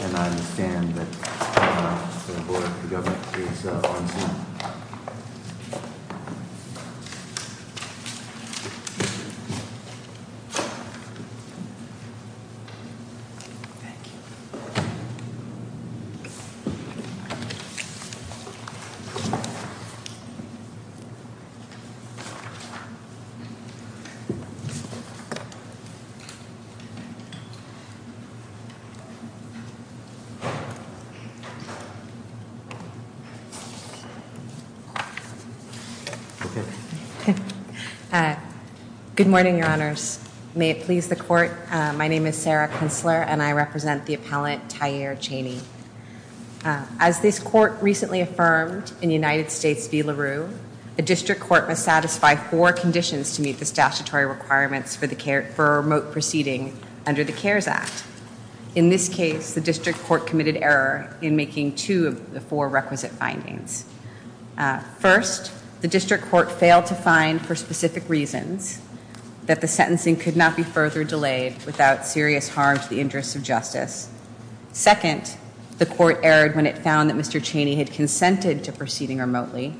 and I understand that the Board of Governors is on Zoom. Good morning, your honors. May it please the court, my name is Sarah Kintzler and I represent the appellant Taier Chaney. As this court recently affirmed in United States v. LaRue, a district court must satisfy four conditions to meet the statutory requirements for a remote proceeding under the CARES Act. In this case, the district court committed error in making two of the four requisite findings. First, the district court failed to find for specific reasons that the sentencing could not be further delayed without serious harm to the interests of justice. Second, the court erred when it found that Mr. Chaney had consented to proceeding remotely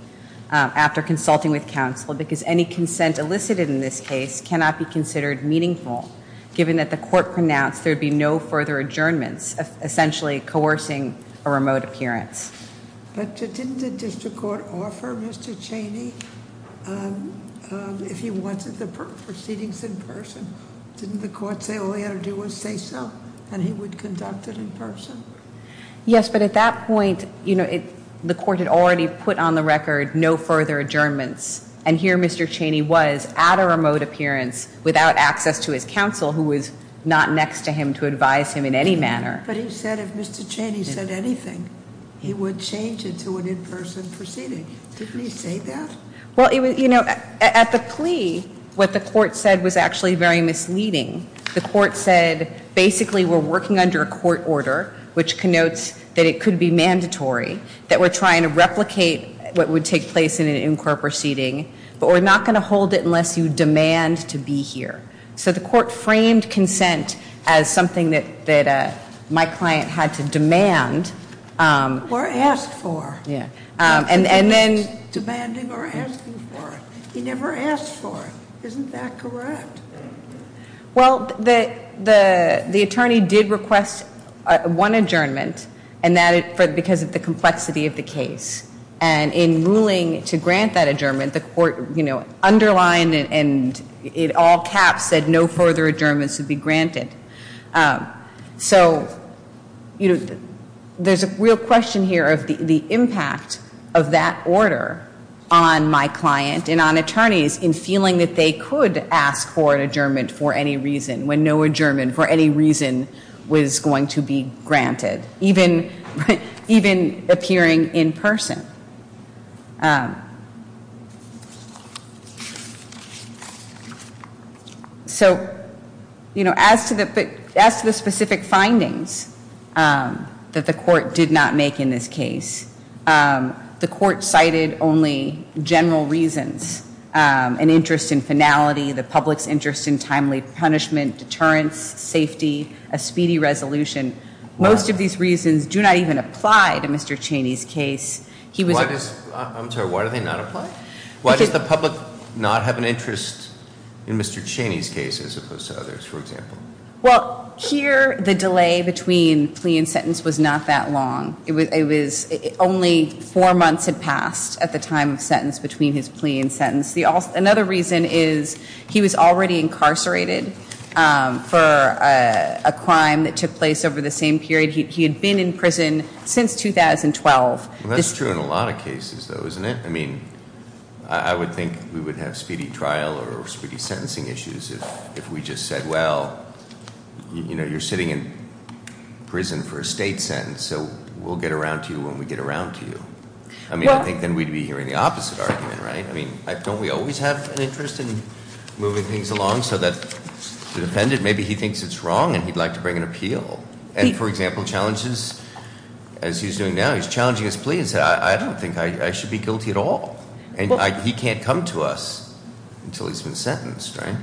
after consulting with counsel because any consent elicited in this case cannot be considered meaningful, given that the court pronounced there would be no further adjournments, essentially coercing a remote appearance. But didn't the district court offer Mr. Chaney, if he wanted the proceedings in person, didn't the court say all he had to do was say so and he would conduct it in person? Yes, but at that point, you know, the court had already put on the record no further adjournments. And here Mr. Chaney was at a remote appearance without access to his counsel who was not next to him to advise him in any manner. But he said if Mr. Chaney said anything, he would change it to an in-person proceeding. Didn't he say that? Well, you know, at the plea, what the court said was actually very misleading. The court said basically we're working under a court order, which connotes that it could be mandatory, that we're trying to replicate what would take place in an in-court proceeding, but we're not going to hold it unless you demand to be here. So the court framed consent as something that my client had to demand. Or ask for. Yeah. And then. Demanding or asking for it. He never asked for it. Isn't that correct? Well, the attorney did request one adjournment because of the complexity of the case. And in ruling to grant that adjournment, the court, you know, underlined and in all caps said no further adjournments would be granted. So, you know, there's a real question here of the impact of that order on my client and on attorneys in feeling that they could ask for an adjournment for any reason when no adjournment for any reason was going to be granted. Even appearing in person. So, you know, as to the specific findings that the court did not make in this case, the court cited only general reasons. An interest in finality, the public's interest in timely punishment, deterrence, safety, a speedy resolution. Most of these reasons do not even apply to Mr. Cheney's case. I'm sorry, why do they not apply? Why does the public not have an interest in Mr. Cheney's case as opposed to others, for example? Well, here the delay between plea and sentence was not that long. It was only four months had passed at the time of sentence between his plea and sentence. Another reason is he was already incarcerated for a crime that took place over the same period. He had been in prison since 2012. Well, that's true in a lot of cases, though, isn't it? I mean, I would think we would have speedy trial or speedy sentencing issues if we just said, well, you know, you're sitting in prison for a state sentence, so we'll get around to you when we get around to you. I mean, I think then we'd be hearing the opposite argument, right? I mean, don't we always have an interest in moving things along so that the defendant, maybe he thinks it's wrong and he'd like to bring an appeal? And, for example, challenges, as he's doing now, he's challenging his plea and said, I don't think I should be guilty at all, and he can't come to us until he's been sentenced, right?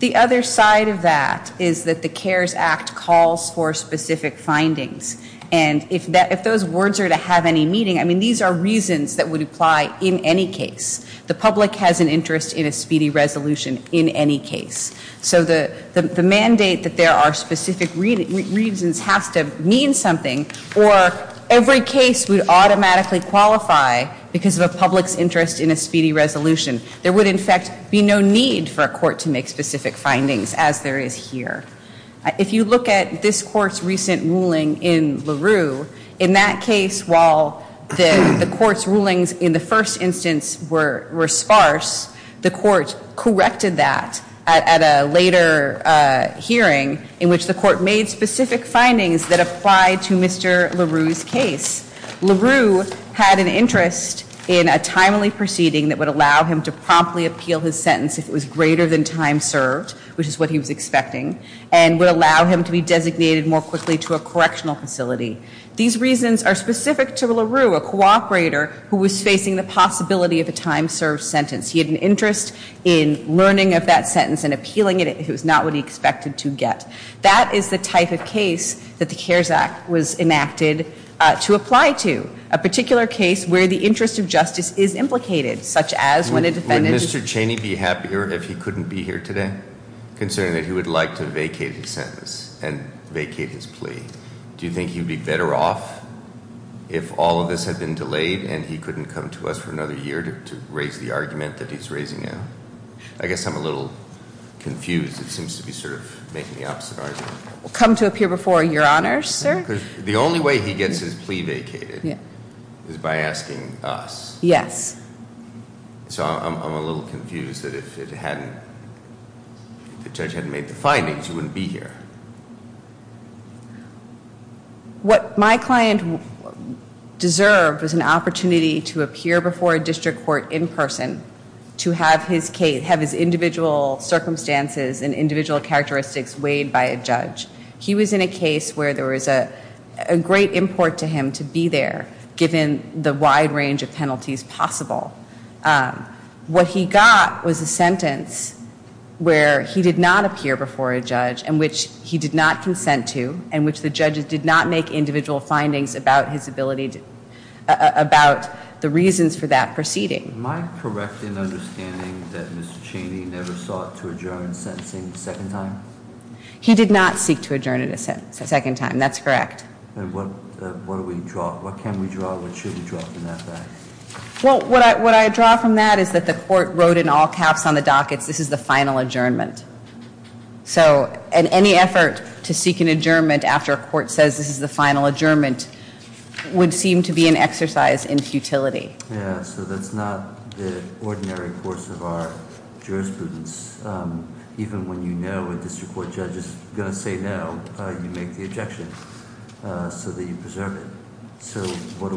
The other side of that is that the CARES Act calls for specific findings, and if those words are to have any meaning, I mean, these are reasons that would apply in any case. The public has an interest in a speedy resolution in any case. So the mandate that there are specific reasons has to mean something, or every case would automatically qualify because of a public's interest in a speedy resolution. There would, in fact, be no need for a court to make specific findings, as there is here. If you look at this court's recent ruling in LaRue, in that case, while the court's rulings in the first instance were sparse, the court corrected that at a later hearing, in which the court made specific findings that applied to Mr. LaRue's case. LaRue had an interest in a timely proceeding that would allow him to promptly appeal his sentence if it was greater than time served, which is what he was expecting, and would allow him to be designated more quickly to a correctional facility. These reasons are specific to LaRue, a cooperator who was facing the possibility of a time served sentence. He had an interest in learning of that sentence and appealing it if it was not what he expected to get. That is the type of case that the CARES Act was enacted to apply to, a particular case where the interest of justice is implicated, such as when a defendant- Would Mr. Cheney be happier if he couldn't be here today, considering that he would like to vacate his sentence and vacate his plea? Do you think he would be better off if all of this had been delayed and he couldn't come to us for another year to raise the argument that he's raising now? I guess I'm a little confused. It seems to be sort of making the opposite argument. Come to appear before Your Honor, sir? Because the only way he gets his plea vacated is by asking us. Yes. So I'm a little confused that if the judge hadn't made the findings, he wouldn't be here. What my client deserved was an opportunity to appear before a district court in person to have his individual circumstances and individual characteristics weighed by a judge. He was in a case where there was a great import to him to be there, given the wide range of penalties possible. What he got was a sentence where he did not appear before a judge, and which he did not consent to, and which the judges did not make individual findings about the reasons for that proceeding. Am I correct in understanding that Mr. Cheney never sought to adjourn sentencing a second time? He did not seek to adjourn a second time. That's correct. What do we draw? What can we draw? What should we draw from that fact? Well, what I draw from that is that the court wrote in all caps on the dockets, this is the final adjournment. So any effort to seek an adjournment after a court says this is the final adjournment would seem to be an exercise in futility. Yeah, so that's not the ordinary course of our jurisprudence. Even when you know a district court judge is going to say no, you make the objection so that you preserve it. So what are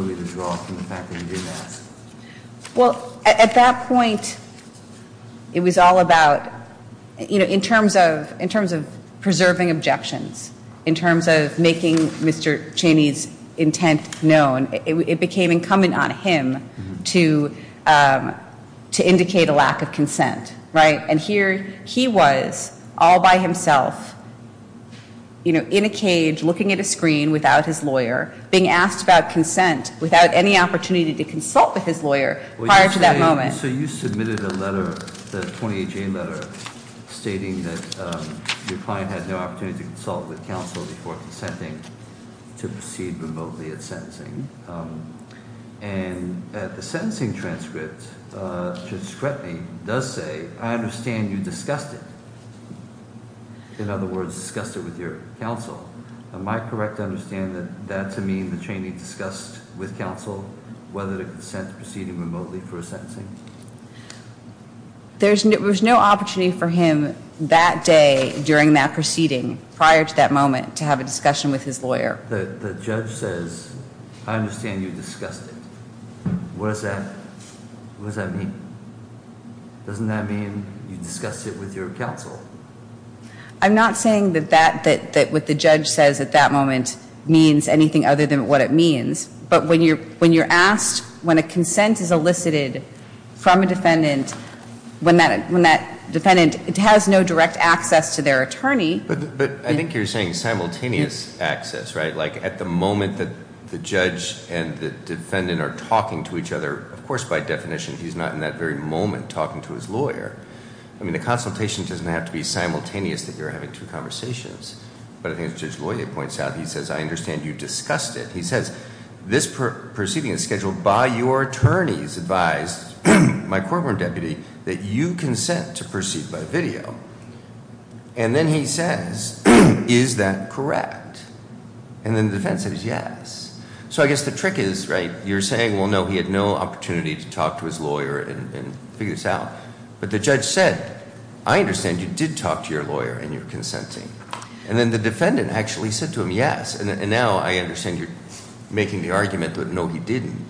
we to draw from the fact that you didn't ask? Well, at that point, it was all about, you know, in terms of preserving objections, in terms of making Mr. Cheney's intent known, it became incumbent on him to indicate a lack of consent, right? And here he was all by himself, you know, in a cage looking at a screen without his lawyer, being asked about consent without any opportunity to consult with his lawyer prior to that moment. So you submitted a letter, the 28-J letter, stating that your client had no opportunity to consult with counsel before consenting to proceed remotely at sentencing. And at the sentencing transcript, Judge Scretney does say, I understand you discussed it. In other words, discussed it with your counsel. Am I correct to understand that that's to mean that Cheney discussed with counsel whether to consent to proceeding remotely for a sentencing? There was no opportunity for him that day, during that proceeding, prior to that moment, to have a discussion with his lawyer. The judge says, I understand you discussed it. What does that mean? Doesn't that mean you discussed it with your counsel? I'm not saying that what the judge says at that moment means anything other than what it means. But when you're asked, when a consent is elicited from a defendant, when that defendant has no direct access to their attorney- But I think you're saying simultaneous access, right? Like at the moment that the judge and the defendant are talking to each other, of course, by definition, he's not in that very moment talking to his lawyer. I mean, the consultation doesn't have to be simultaneous, that you're having two conversations. But I think as Judge Loyer points out, he says, I understand you discussed it. He says, this proceeding is scheduled by your attorney's advice, my court-warned deputy, that you consent to proceed by video. And then he says, is that correct? And then the defendant says, yes. So I guess the trick is, right, you're saying, well, no, he had no opportunity to talk to his lawyer and figure this out. But the judge said, I understand you did talk to your lawyer and you're consenting. And then the defendant actually said to him, yes. And now I understand you're making the argument that no, he didn't.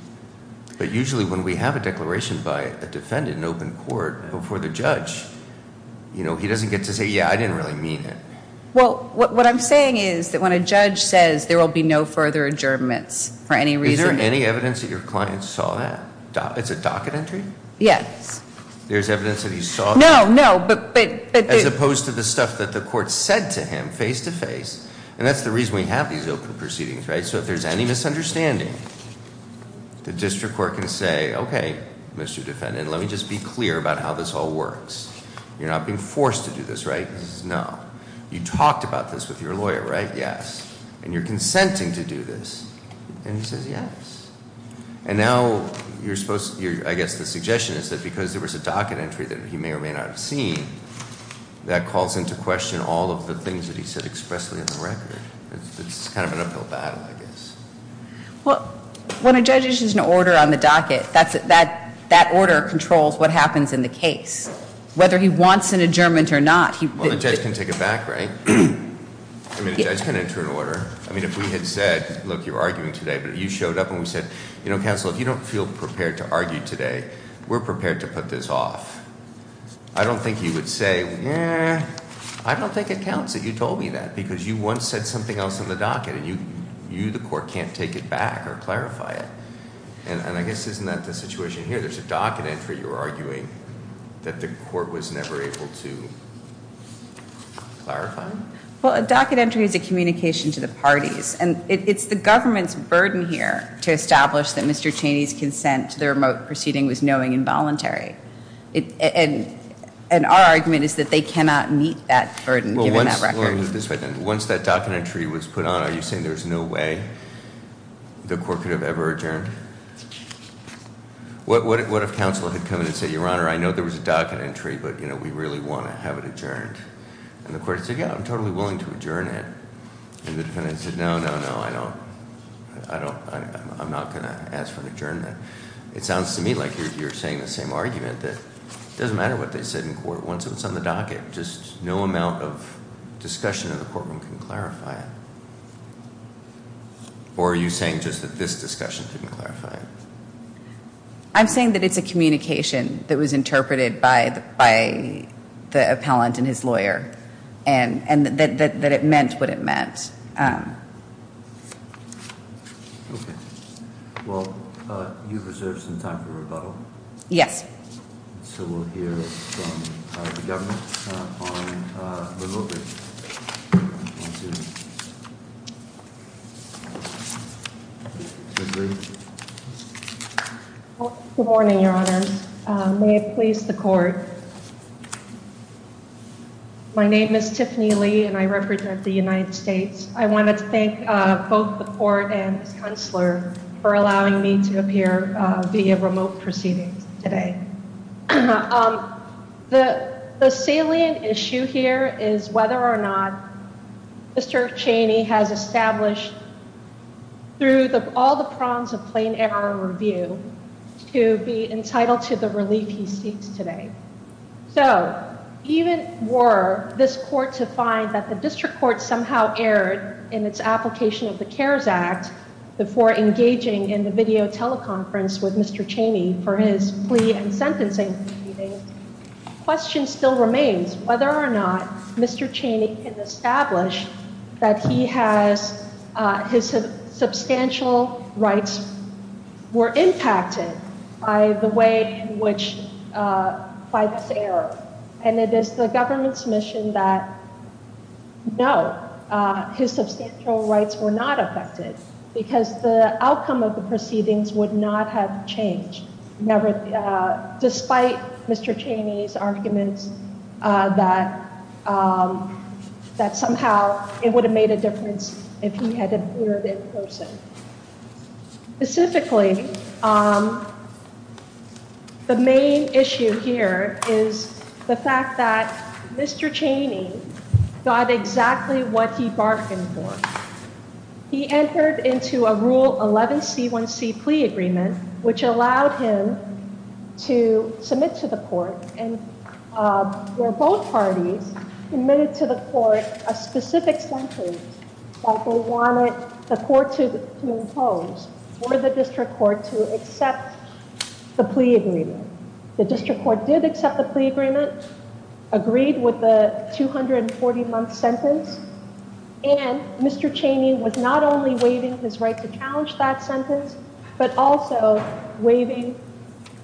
But usually when we have a declaration by a defendant in open court before the judge, you know, he doesn't get to say, yeah, I didn't really mean it. Well, what I'm saying is that when a judge says there will be no further adjournments for any reason- Is there any evidence that your client saw that? It's a docket entry? Yes. There's evidence that he saw that? No, no, but- As opposed to the stuff that the court said to him face to face. And that's the reason we have these open proceedings, right? So if there's any misunderstanding, the district court can say, okay, Mr. Defendant, let me just be clear about how this all works. You're not being forced to do this, right? No. You talked about this with your lawyer, right? Yes. And you're consenting to do this. And he says yes. And now you're supposed- I guess the suggestion is that because there was a docket entry that he may or may not have seen, that calls into question all of the things that he said expressly in the record. It's kind of an uphill battle, I guess. Well, when a judge issues an order on the docket, that order controls what happens in the case. Whether he wants an adjournment or not- Well, the judge can take it back, right? I mean, the judge can enter an order. I mean, if we had said, look, you're arguing today, but you showed up and we said, you know, counsel, if you don't feel prepared to argue today, we're prepared to put this off. I don't think he would say, yeah, I don't think it counts that you told me that. Because you once said something else in the docket, and you, the court, can't take it back or clarify it. And I guess isn't that the situation here? There's a docket entry you're arguing that the court was never able to clarify? Well, a docket entry is a communication to the parties. And it's the government's burden here to establish that Mr. Cheney's consent to the remote proceeding was knowing and voluntary. And our argument is that they cannot meet that burden, given that record. Well, let me put it this way, then. Once that docket entry was put on, are you saying there's no way the court could have ever adjourned? What if counsel had come in and said, Your Honor, I know there was a docket entry, but, you know, we really want to have it adjourned? And the court said, yeah, I'm totally willing to adjourn it. And the defendant said, no, no, no, I don't. I'm not going to ask for an adjournment. It sounds to me like you're saying the same argument, that it doesn't matter what they said in court. Once it was on the docket, just no amount of discussion in the courtroom can clarify it. Or are you saying just that this discussion didn't clarify it? I'm saying that it's a communication that was interpreted by the appellant and his lawyer, and that it meant what it meant. Okay. Well, you've reserved some time for rebuttal. Yes. So we'll hear from the government on the vote. Good morning, Your Honor. May it please the court. My name is Tiffany Lee, and I represent the United States. I wanted to thank both the court and his counselor for allowing me to appear via remote proceedings today. The salient issue here is whether or not Mr. Cheney has established, through all the prongs of plain error review, to be entitled to the relief he seeks today. So even were this court to find that the district court somehow erred in its application of the CARES Act before engaging in the video teleconference with Mr. Cheney for his plea and sentencing proceedings, the question still remains whether or not Mr. Cheney can establish that his substantial rights were impacted by this error. And it is the government's mission that, no, his substantial rights were not affected because the outcome of the proceedings would not have changed, despite Mr. Cheney's arguments that somehow it would have made a difference if he had appeared in person. Specifically, the main issue here is the fact that Mr. Cheney got exactly what he bargained for. He entered into a Rule 11C1C plea agreement, which allowed him to submit to the court, where both parties admitted to the court a specific sentence that they wanted the court to impose, or the district court to accept the plea agreement. The district court did accept the plea agreement, agreed with the 240-month sentence, and Mr. Cheney was not only waiving his right to challenge that sentence, but also waiving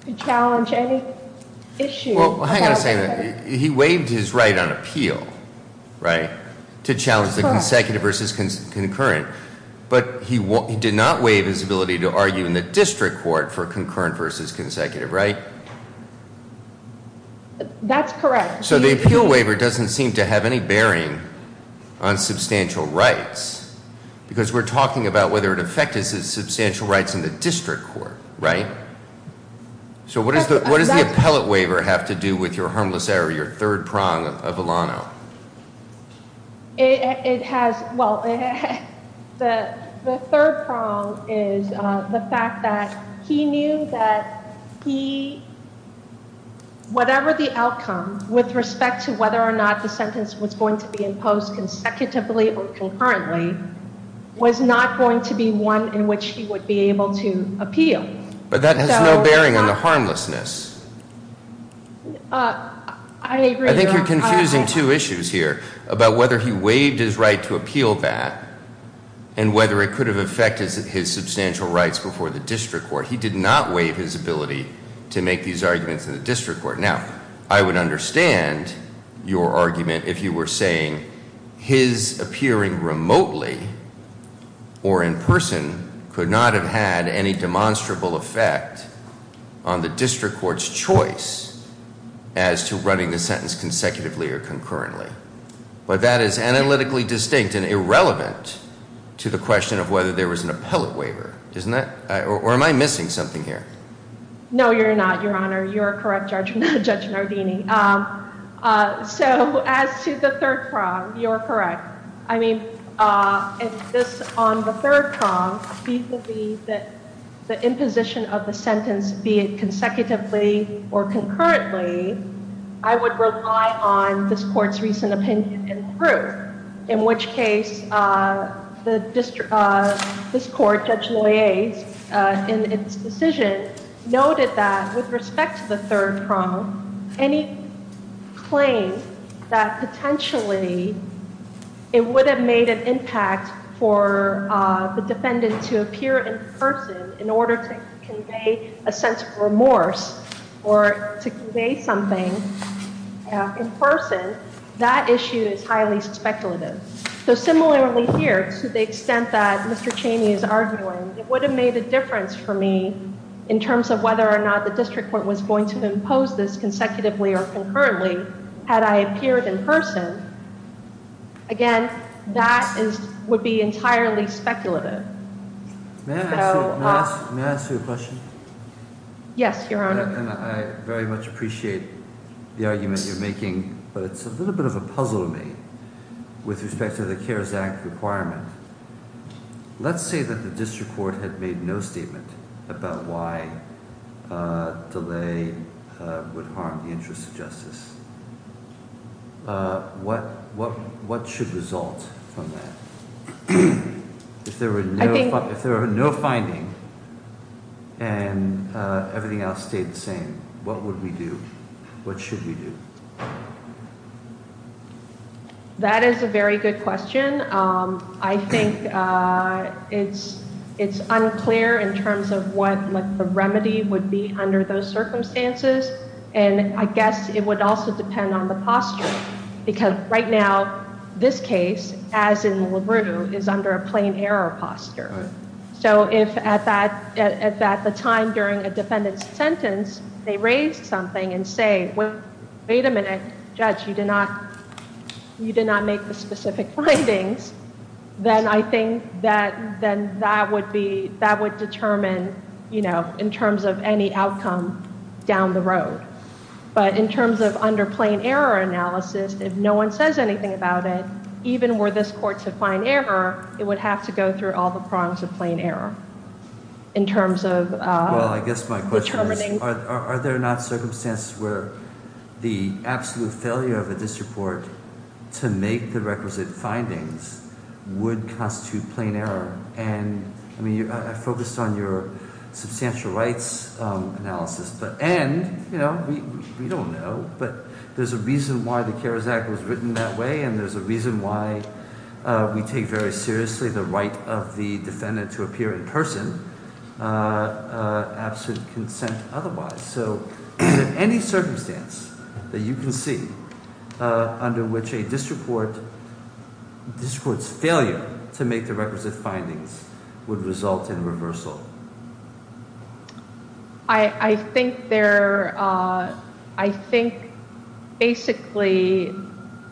to challenge any issue. Well, hang on a second. He waived his right on appeal, right, to challenge the consecutive versus concurrent. But he did not waive his ability to argue in the district court for concurrent versus consecutive, right? That's correct. So the appeal waiver doesn't seem to have any bearing on substantial rights, because we're talking about whether it affected substantial rights in the district court, right? So what does the appellate waiver have to do with your harmless error, your third prong of Alano? It has, well, the third prong is the fact that he knew that he, whatever the outcome, with respect to whether or not the sentence was going to be imposed consecutively or concurrently, was not going to be one in which he would be able to appeal. But that has no bearing on the harmlessness. I agree, though. I think you're confusing two issues here about whether he waived his right to appeal that and whether it could have affected his substantial rights before the district court. He did not waive his ability to make these arguments in the district court. Now, I would understand your argument if you were saying his appearing remotely or in person could not have had any demonstrable effect on the district court's choice as to running the sentence consecutively or concurrently. But that is analytically distinct and irrelevant to the question of whether there was an appellate waiver, isn't it? Or am I missing something here? No, you're not, Your Honor. You're correct, Judge Nardini. So as to the third prong, you're correct. I mean, this on the third prong, the imposition of the sentence, be it consecutively or concurrently, I would rely on this court's recent opinion and proof, in which case this court, Judge Loyer, in its decision, noted that with respect to the third prong, any claim that potentially it would have made an impact for the defendant to appear in person in order to convey a sense of remorse or to convey something in person, that issue is highly speculative. So similarly here, to the extent that Mr. Cheney is arguing, it would have made a difference for me in terms of whether or not the district court was going to impose this consecutively or concurrently had I appeared in person. Again, that would be entirely speculative. May I ask you a question? Yes, Your Honor. And I very much appreciate the argument you're making, but it's a little bit of a puzzle to me with respect to the CARES Act requirement. Let's say that the district court had made no statement about why delay would harm the interest of justice. What should result from that? If there were no finding and everything else stayed the same, what would we do? What should we do? That is a very good question. I think it's unclear in terms of what the remedy would be under those circumstances, and I guess it would also depend on the posture. Because right now, this case, as in LaRue, is under a plain error posture. So if at the time during a defendant's sentence they raised something and say, wait a minute, judge, you did not make the specific findings, then I think that would determine in terms of any outcome down the road. But in terms of under plain error analysis, if no one says anything about it, even were this court to find error, it would have to go through all the prongs of plain error. Well, I guess my question is, are there not circumstances where the absolute failure of a district court to make the requisite findings would constitute plain error? I mean, I focused on your substantial rights analysis, and we don't know, but there's a reason why the CARES Act was written that way, and there's a reason why we take very seriously the right of the defendant to appear in person absent consent otherwise. So is there any circumstance that you can see under which a district court's failure to make the requisite findings would result in reversal? I think basically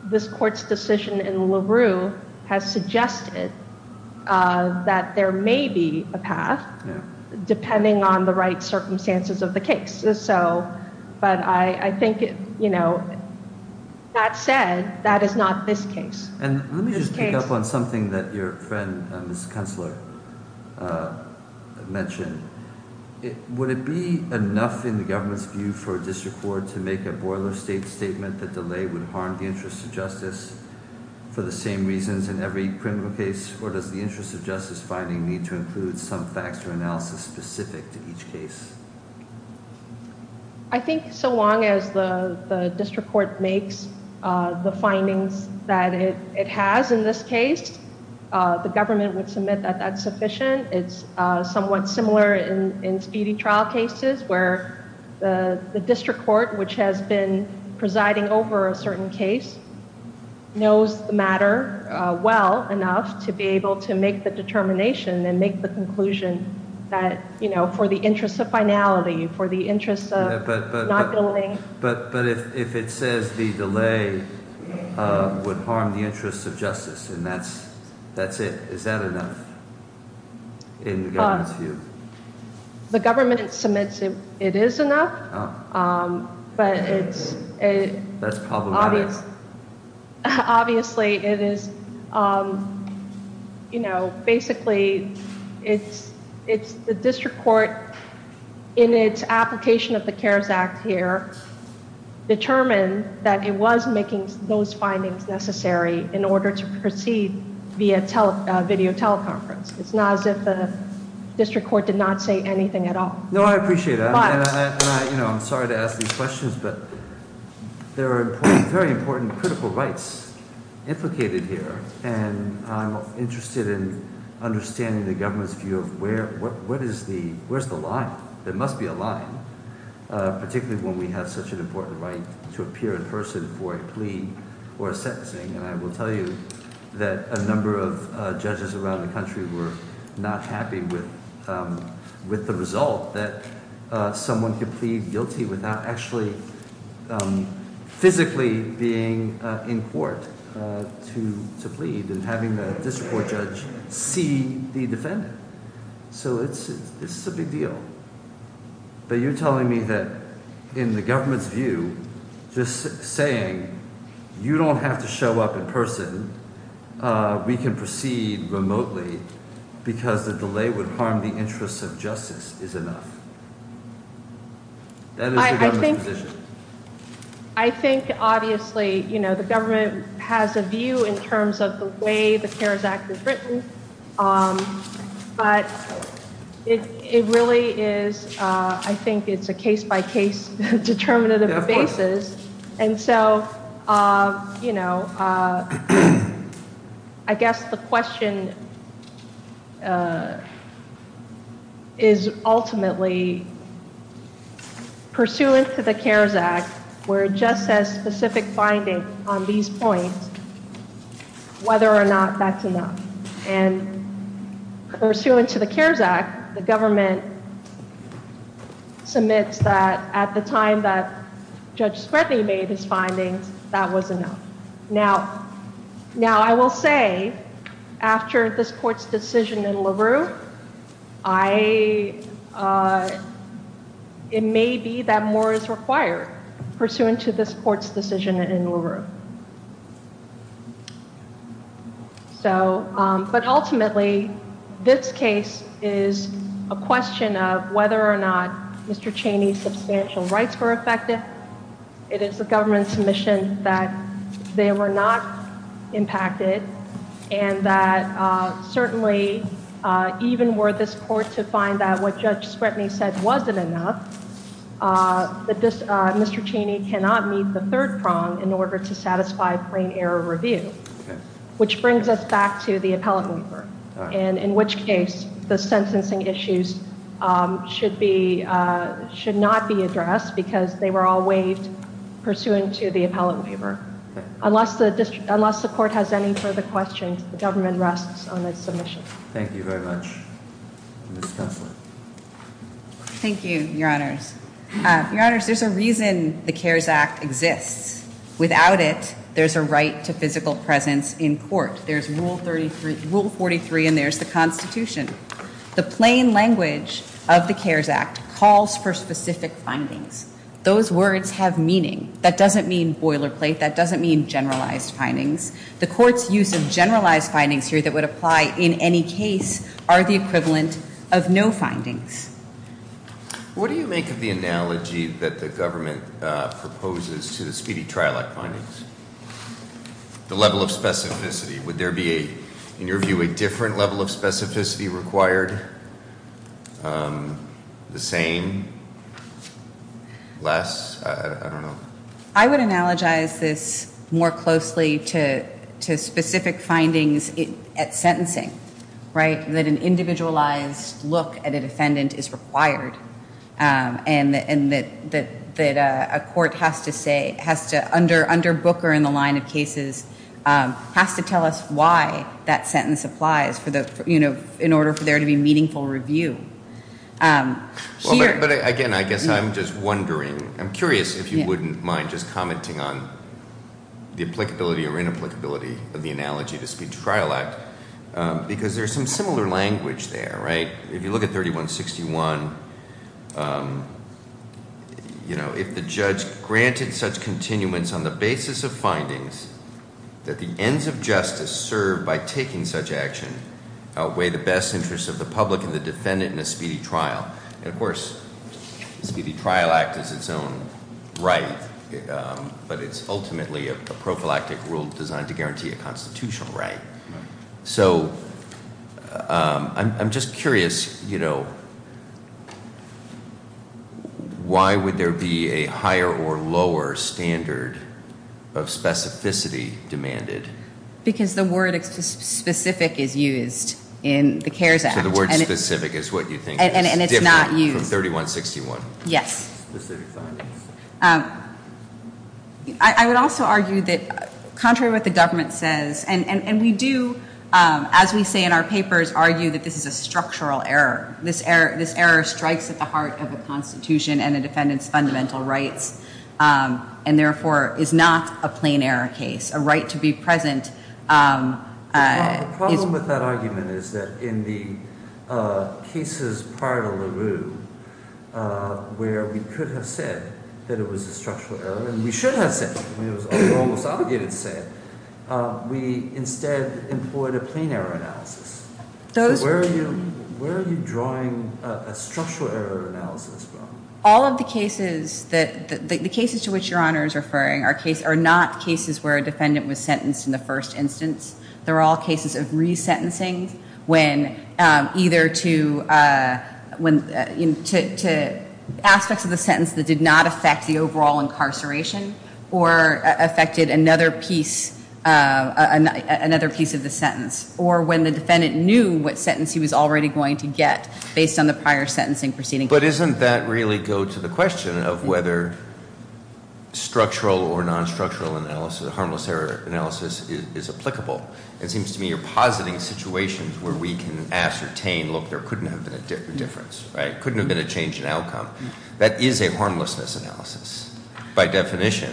this court's decision in LaRue has suggested that there may be a path depending on the right circumstances of the case. But I think, you know, that said, that is not this case. And let me just pick up on something that your friend, Ms. Kunstler, mentioned. Would it be enough in the government's view for a district court to make a boiler state statement that delay would harm the interest of justice for the same reasons in every criminal case, or does the interest of justice finding need to include some facts or analysis specific to each case? I think so long as the district court makes the findings that it has in this case, the government would submit that that's sufficient. It's somewhat similar in speedy trial cases where the district court, which has been presiding over a certain case, knows the matter well enough to be able to make the determination and make the conclusion that, you know, for the interest of finality, for the interest of not building... But if it says the delay would harm the interest of justice and that's it, is that enough in the government's view? The government submits it is enough, but it's... That's problematic. Obviously it is, you know, basically it's the district court in its application of the CARES Act here determined that it was making those findings necessary in order to proceed via video teleconference. It's not as if the district court did not say anything at all. No, I appreciate that. I'm sorry to ask these questions, but there are very important critical rights implicated here, and I'm interested in understanding the government's view of where is the line. There must be a line, particularly when we have such an important right to appear in person for a plea or a sentencing. And I will tell you that a number of judges around the country were not happy with the result that someone could plead guilty without actually physically being in court to plead and having the district court judge see the defendant. So this is a big deal. But you're telling me that in the government's view, just saying you don't have to show up in person, we can proceed remotely because the delay would harm the interests of justice is enough? That is the government's position. I think obviously, you know, the government has a view in terms of the way the CARES Act is written, but it really is, I think it's a case-by-case determinative basis. And so, you know, I guess the question is ultimately pursuant to the CARES Act, where it just says specific finding on these points, whether or not that's enough. And pursuant to the CARES Act, the government submits that at the time that Judge Spredney made his findings, that was enough. Now, I will say, after this court's decision in LaRue, it may be that more is required pursuant to this court's decision in LaRue. But ultimately, this case is a question of whether or not Mr. Cheney's substantial rights were affected. It is the government's mission that they were not impacted, and that certainly even were this court to find out what Judge Spredney said wasn't enough, that Mr. Cheney cannot meet the third prong in order to satisfy plain error review, which brings us back to the appellate waiver, and in which case the sentencing issues should not be addressed because they were all waived pursuant to the appellate waiver. Unless the court has any further questions, the government rests on its submission. Thank you very much, Ms. Kessler. Thank you, Your Honors. Your Honors, there's a reason the CARES Act exists. Without it, there's a right to physical presence in court. There's Rule 43, and there's the Constitution. The plain language of the CARES Act calls for specific findings. Those words have meaning. That doesn't mean boilerplate. That doesn't mean generalized findings. The court's use of generalized findings here that would apply in any case are the equivalent of no findings. What do you make of the analogy that the government proposes to the speedy trial act findings? The level of specificity. Would there be, in your view, a different level of specificity required? The same? Less? I don't know. I would analogize this more closely to specific findings at sentencing, right, that an individualized look at a defendant is required and that a court has to say, under Booker in the line of cases, has to tell us why that sentence applies in order for there to be meaningful review. But, again, I guess I'm just wondering. I'm curious if you wouldn't mind just commenting on the applicability or inapplicability of the analogy to speed trial act, because there's some similar language there, right? If you look at 3161, you know, if the judge granted such continuance on the basis of findings that the ends of justice served by taking such action outweigh the best interest of the public and the defendant in a speedy trial. And, of course, speedy trial act is its own right, but it's ultimately a prophylactic rule designed to guarantee a constitutional right. So I'm just curious, you know, why would there be a higher or lower standard of specificity demanded? Because the word specific is used in the CARES Act. So the word specific is what you think is different from 3161. Yes. Specific findings. I would also argue that contrary to what the government says, and we do, as we say in our papers, argue that this is a structural error. This error strikes at the heart of the Constitution and the defendant's fundamental rights and, therefore, is not a plain error case. A right to be present is- The problem with that argument is that in the cases prior to LaRue, where we could have said that it was a structural error, and we should have said it, when it was almost obligated to say it, we instead employed a plain error analysis. Those- So where are you drawing a structural error analysis from? All of the cases that- the cases to which Your Honor is referring are not cases where a defendant was sentenced in the first instance. They're all cases of resentencing when either to aspects of the sentence that did not affect the overall incarceration, or affected another piece of the sentence, or when the defendant knew what sentence he was already going to get based on the prior sentencing proceeding. But doesn't that really go to the question of whether structural or non-structural analysis, harmless error analysis, is applicable? It seems to me you're positing situations where we can ascertain, look, there couldn't have been a difference, right? Couldn't have been a change in outcome. That is a harmlessness analysis by definition.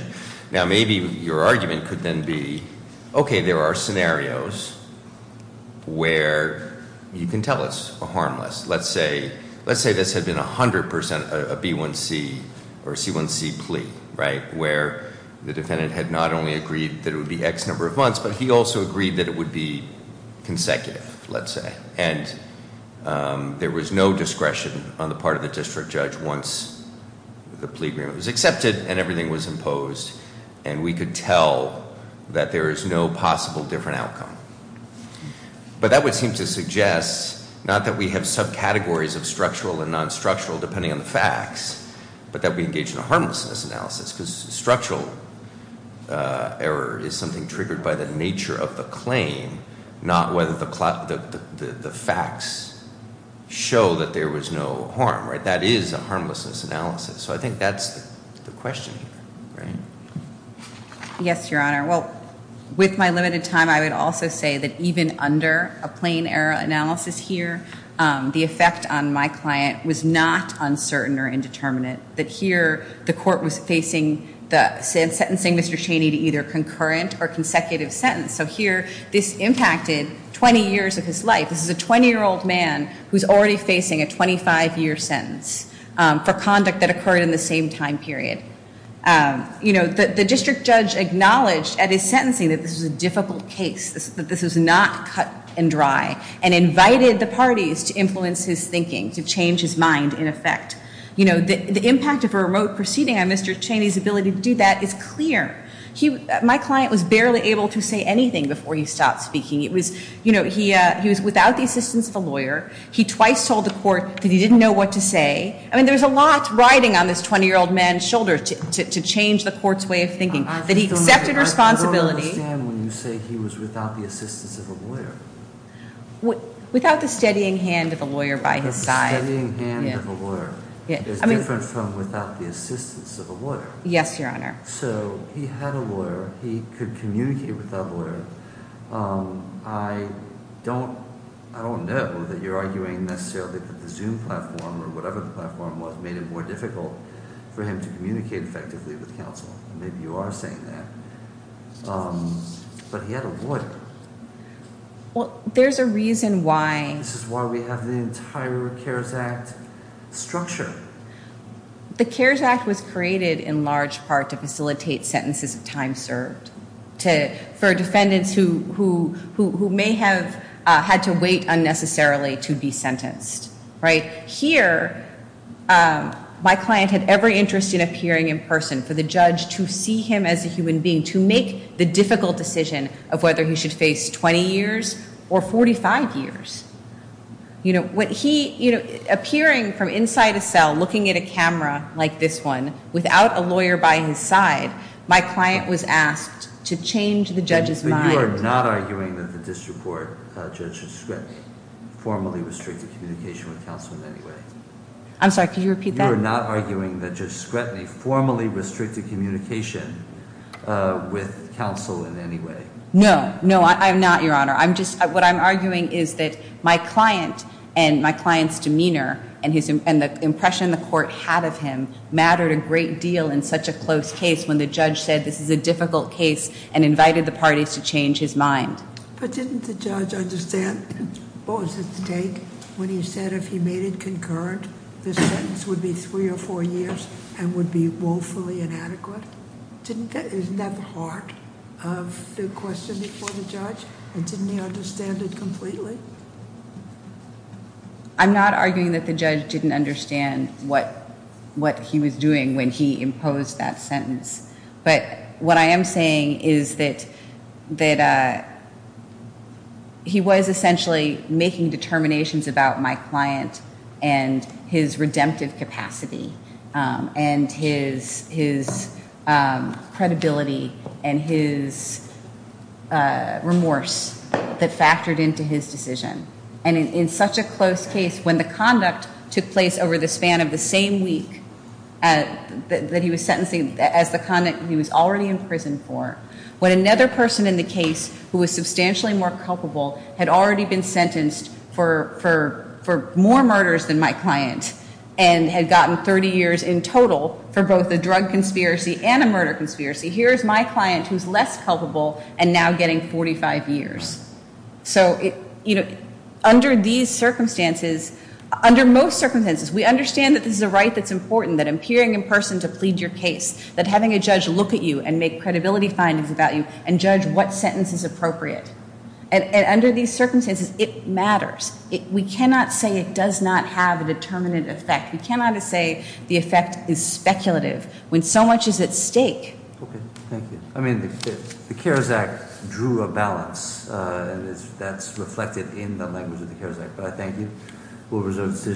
Now, maybe your argument could then be, okay, there are scenarios where you can tell it's harmless. Let's say this had been 100% a B1C or C1C plea, right, where the defendant had not only agreed that it would be X number of months, but he also agreed that it would be consecutive, let's say. And there was no discretion on the part of the district judge once the plea agreement was accepted and everything was imposed, and we could tell that there is no possible different outcome. But that would seem to suggest not that we have subcategories of structural and non-structural depending on the facts, but that we engage in a harmlessness analysis, because structural error is something triggered by the nature of the claim, not whether the facts show that there was no harm, right? That is a harmlessness analysis. So I think that's the question here, right? Yes, Your Honor. Well, with my limited time, I would also say that even under a plain error analysis here, the effect on my client was not uncertain or indeterminate, that here the court was facing sentencing Mr. Cheney to either concurrent or consecutive sentence. So here this impacted 20 years of his life. This is a 20-year-old man who's already facing a 25-year sentence for conduct that occurred in the same time period. The district judge acknowledged at his sentencing that this was a difficult case, that this was not cut and dry, and invited the parties to influence his thinking, to change his mind in effect. The impact of a remote proceeding on Mr. Cheney's ability to do that is clear. My client was barely able to say anything before he stopped speaking. He was without the assistance of a lawyer. He twice told the court that he didn't know what to say. I mean, there's a lot riding on this 20-year-old man's shoulder to change the court's way of thinking. That he accepted responsibility. I don't understand when you say he was without the assistance of a lawyer. Without the steadying hand of a lawyer by his side. A steadying hand of a lawyer is different from without the assistance of a lawyer. Yes, Your Honor. So he had a lawyer. He could communicate with that lawyer. I don't know that you're arguing necessarily that the Zoom platform, or whatever the platform was, made it more difficult for him to communicate effectively with counsel. Maybe you are saying that. But he had a lawyer. Well, there's a reason why. This is why we have the entire CARES Act structure. The CARES Act was created in large part to facilitate sentences of time served. For defendants who may have had to wait unnecessarily to be sentenced. Here, my client had every interest in appearing in person. For the judge to see him as a human being. To make the difficult decision of whether he should face 20 years or 45 years. Appearing from inside a cell, looking at a camera like this one, without a lawyer by his side. My client was asked to change the judge's mind. But you are not arguing that the district court judge had formally restricted communication with counsel in any way. I'm sorry, could you repeat that? You are not arguing that Judge Scrutiny formally restricted communication with counsel in any way. No. No, I'm not, Your Honor. What I'm arguing is that my client and my client's demeanor, and the impression the court had of him, mattered a great deal in such a close case when the judge said this is a difficult case and invited the parties to change his mind. But didn't the judge understand what was at stake when he said if he made it concurrent, this sentence would be three or four years and would be woefully inadequate? Isn't that the heart of the question before the judge? And didn't he understand it completely? I'm not arguing that the judge didn't understand what he was doing when he imposed that sentence. But what I am saying is that he was essentially making determinations about my client and his redemptive capacity and his credibility and his remorse that factored into his decision. And in such a close case, when the conduct took place over the span of the same week that he was sentencing, as the conduct he was already in prison for, when another person in the case who was substantially more culpable had already been sentenced for more murders than my client and had gotten 30 years in total for both a drug conspiracy and a murder conspiracy, here's my client who's less culpable and now getting 45 years. So, you know, under these circumstances, under most circumstances, we understand that this is a right that's important, that appearing in person to plead your case, that having a judge look at you and make credibility findings about you and judge what sentence is appropriate. And under these circumstances, it matters. We cannot say it does not have a determinate effect. We cannot say the effect is speculative when so much is at stake. Okay. Thank you. I mean, the CARES Act drew a balance, and that's reflected in the language of the CARES Act. But I thank you. We'll reserve the decision.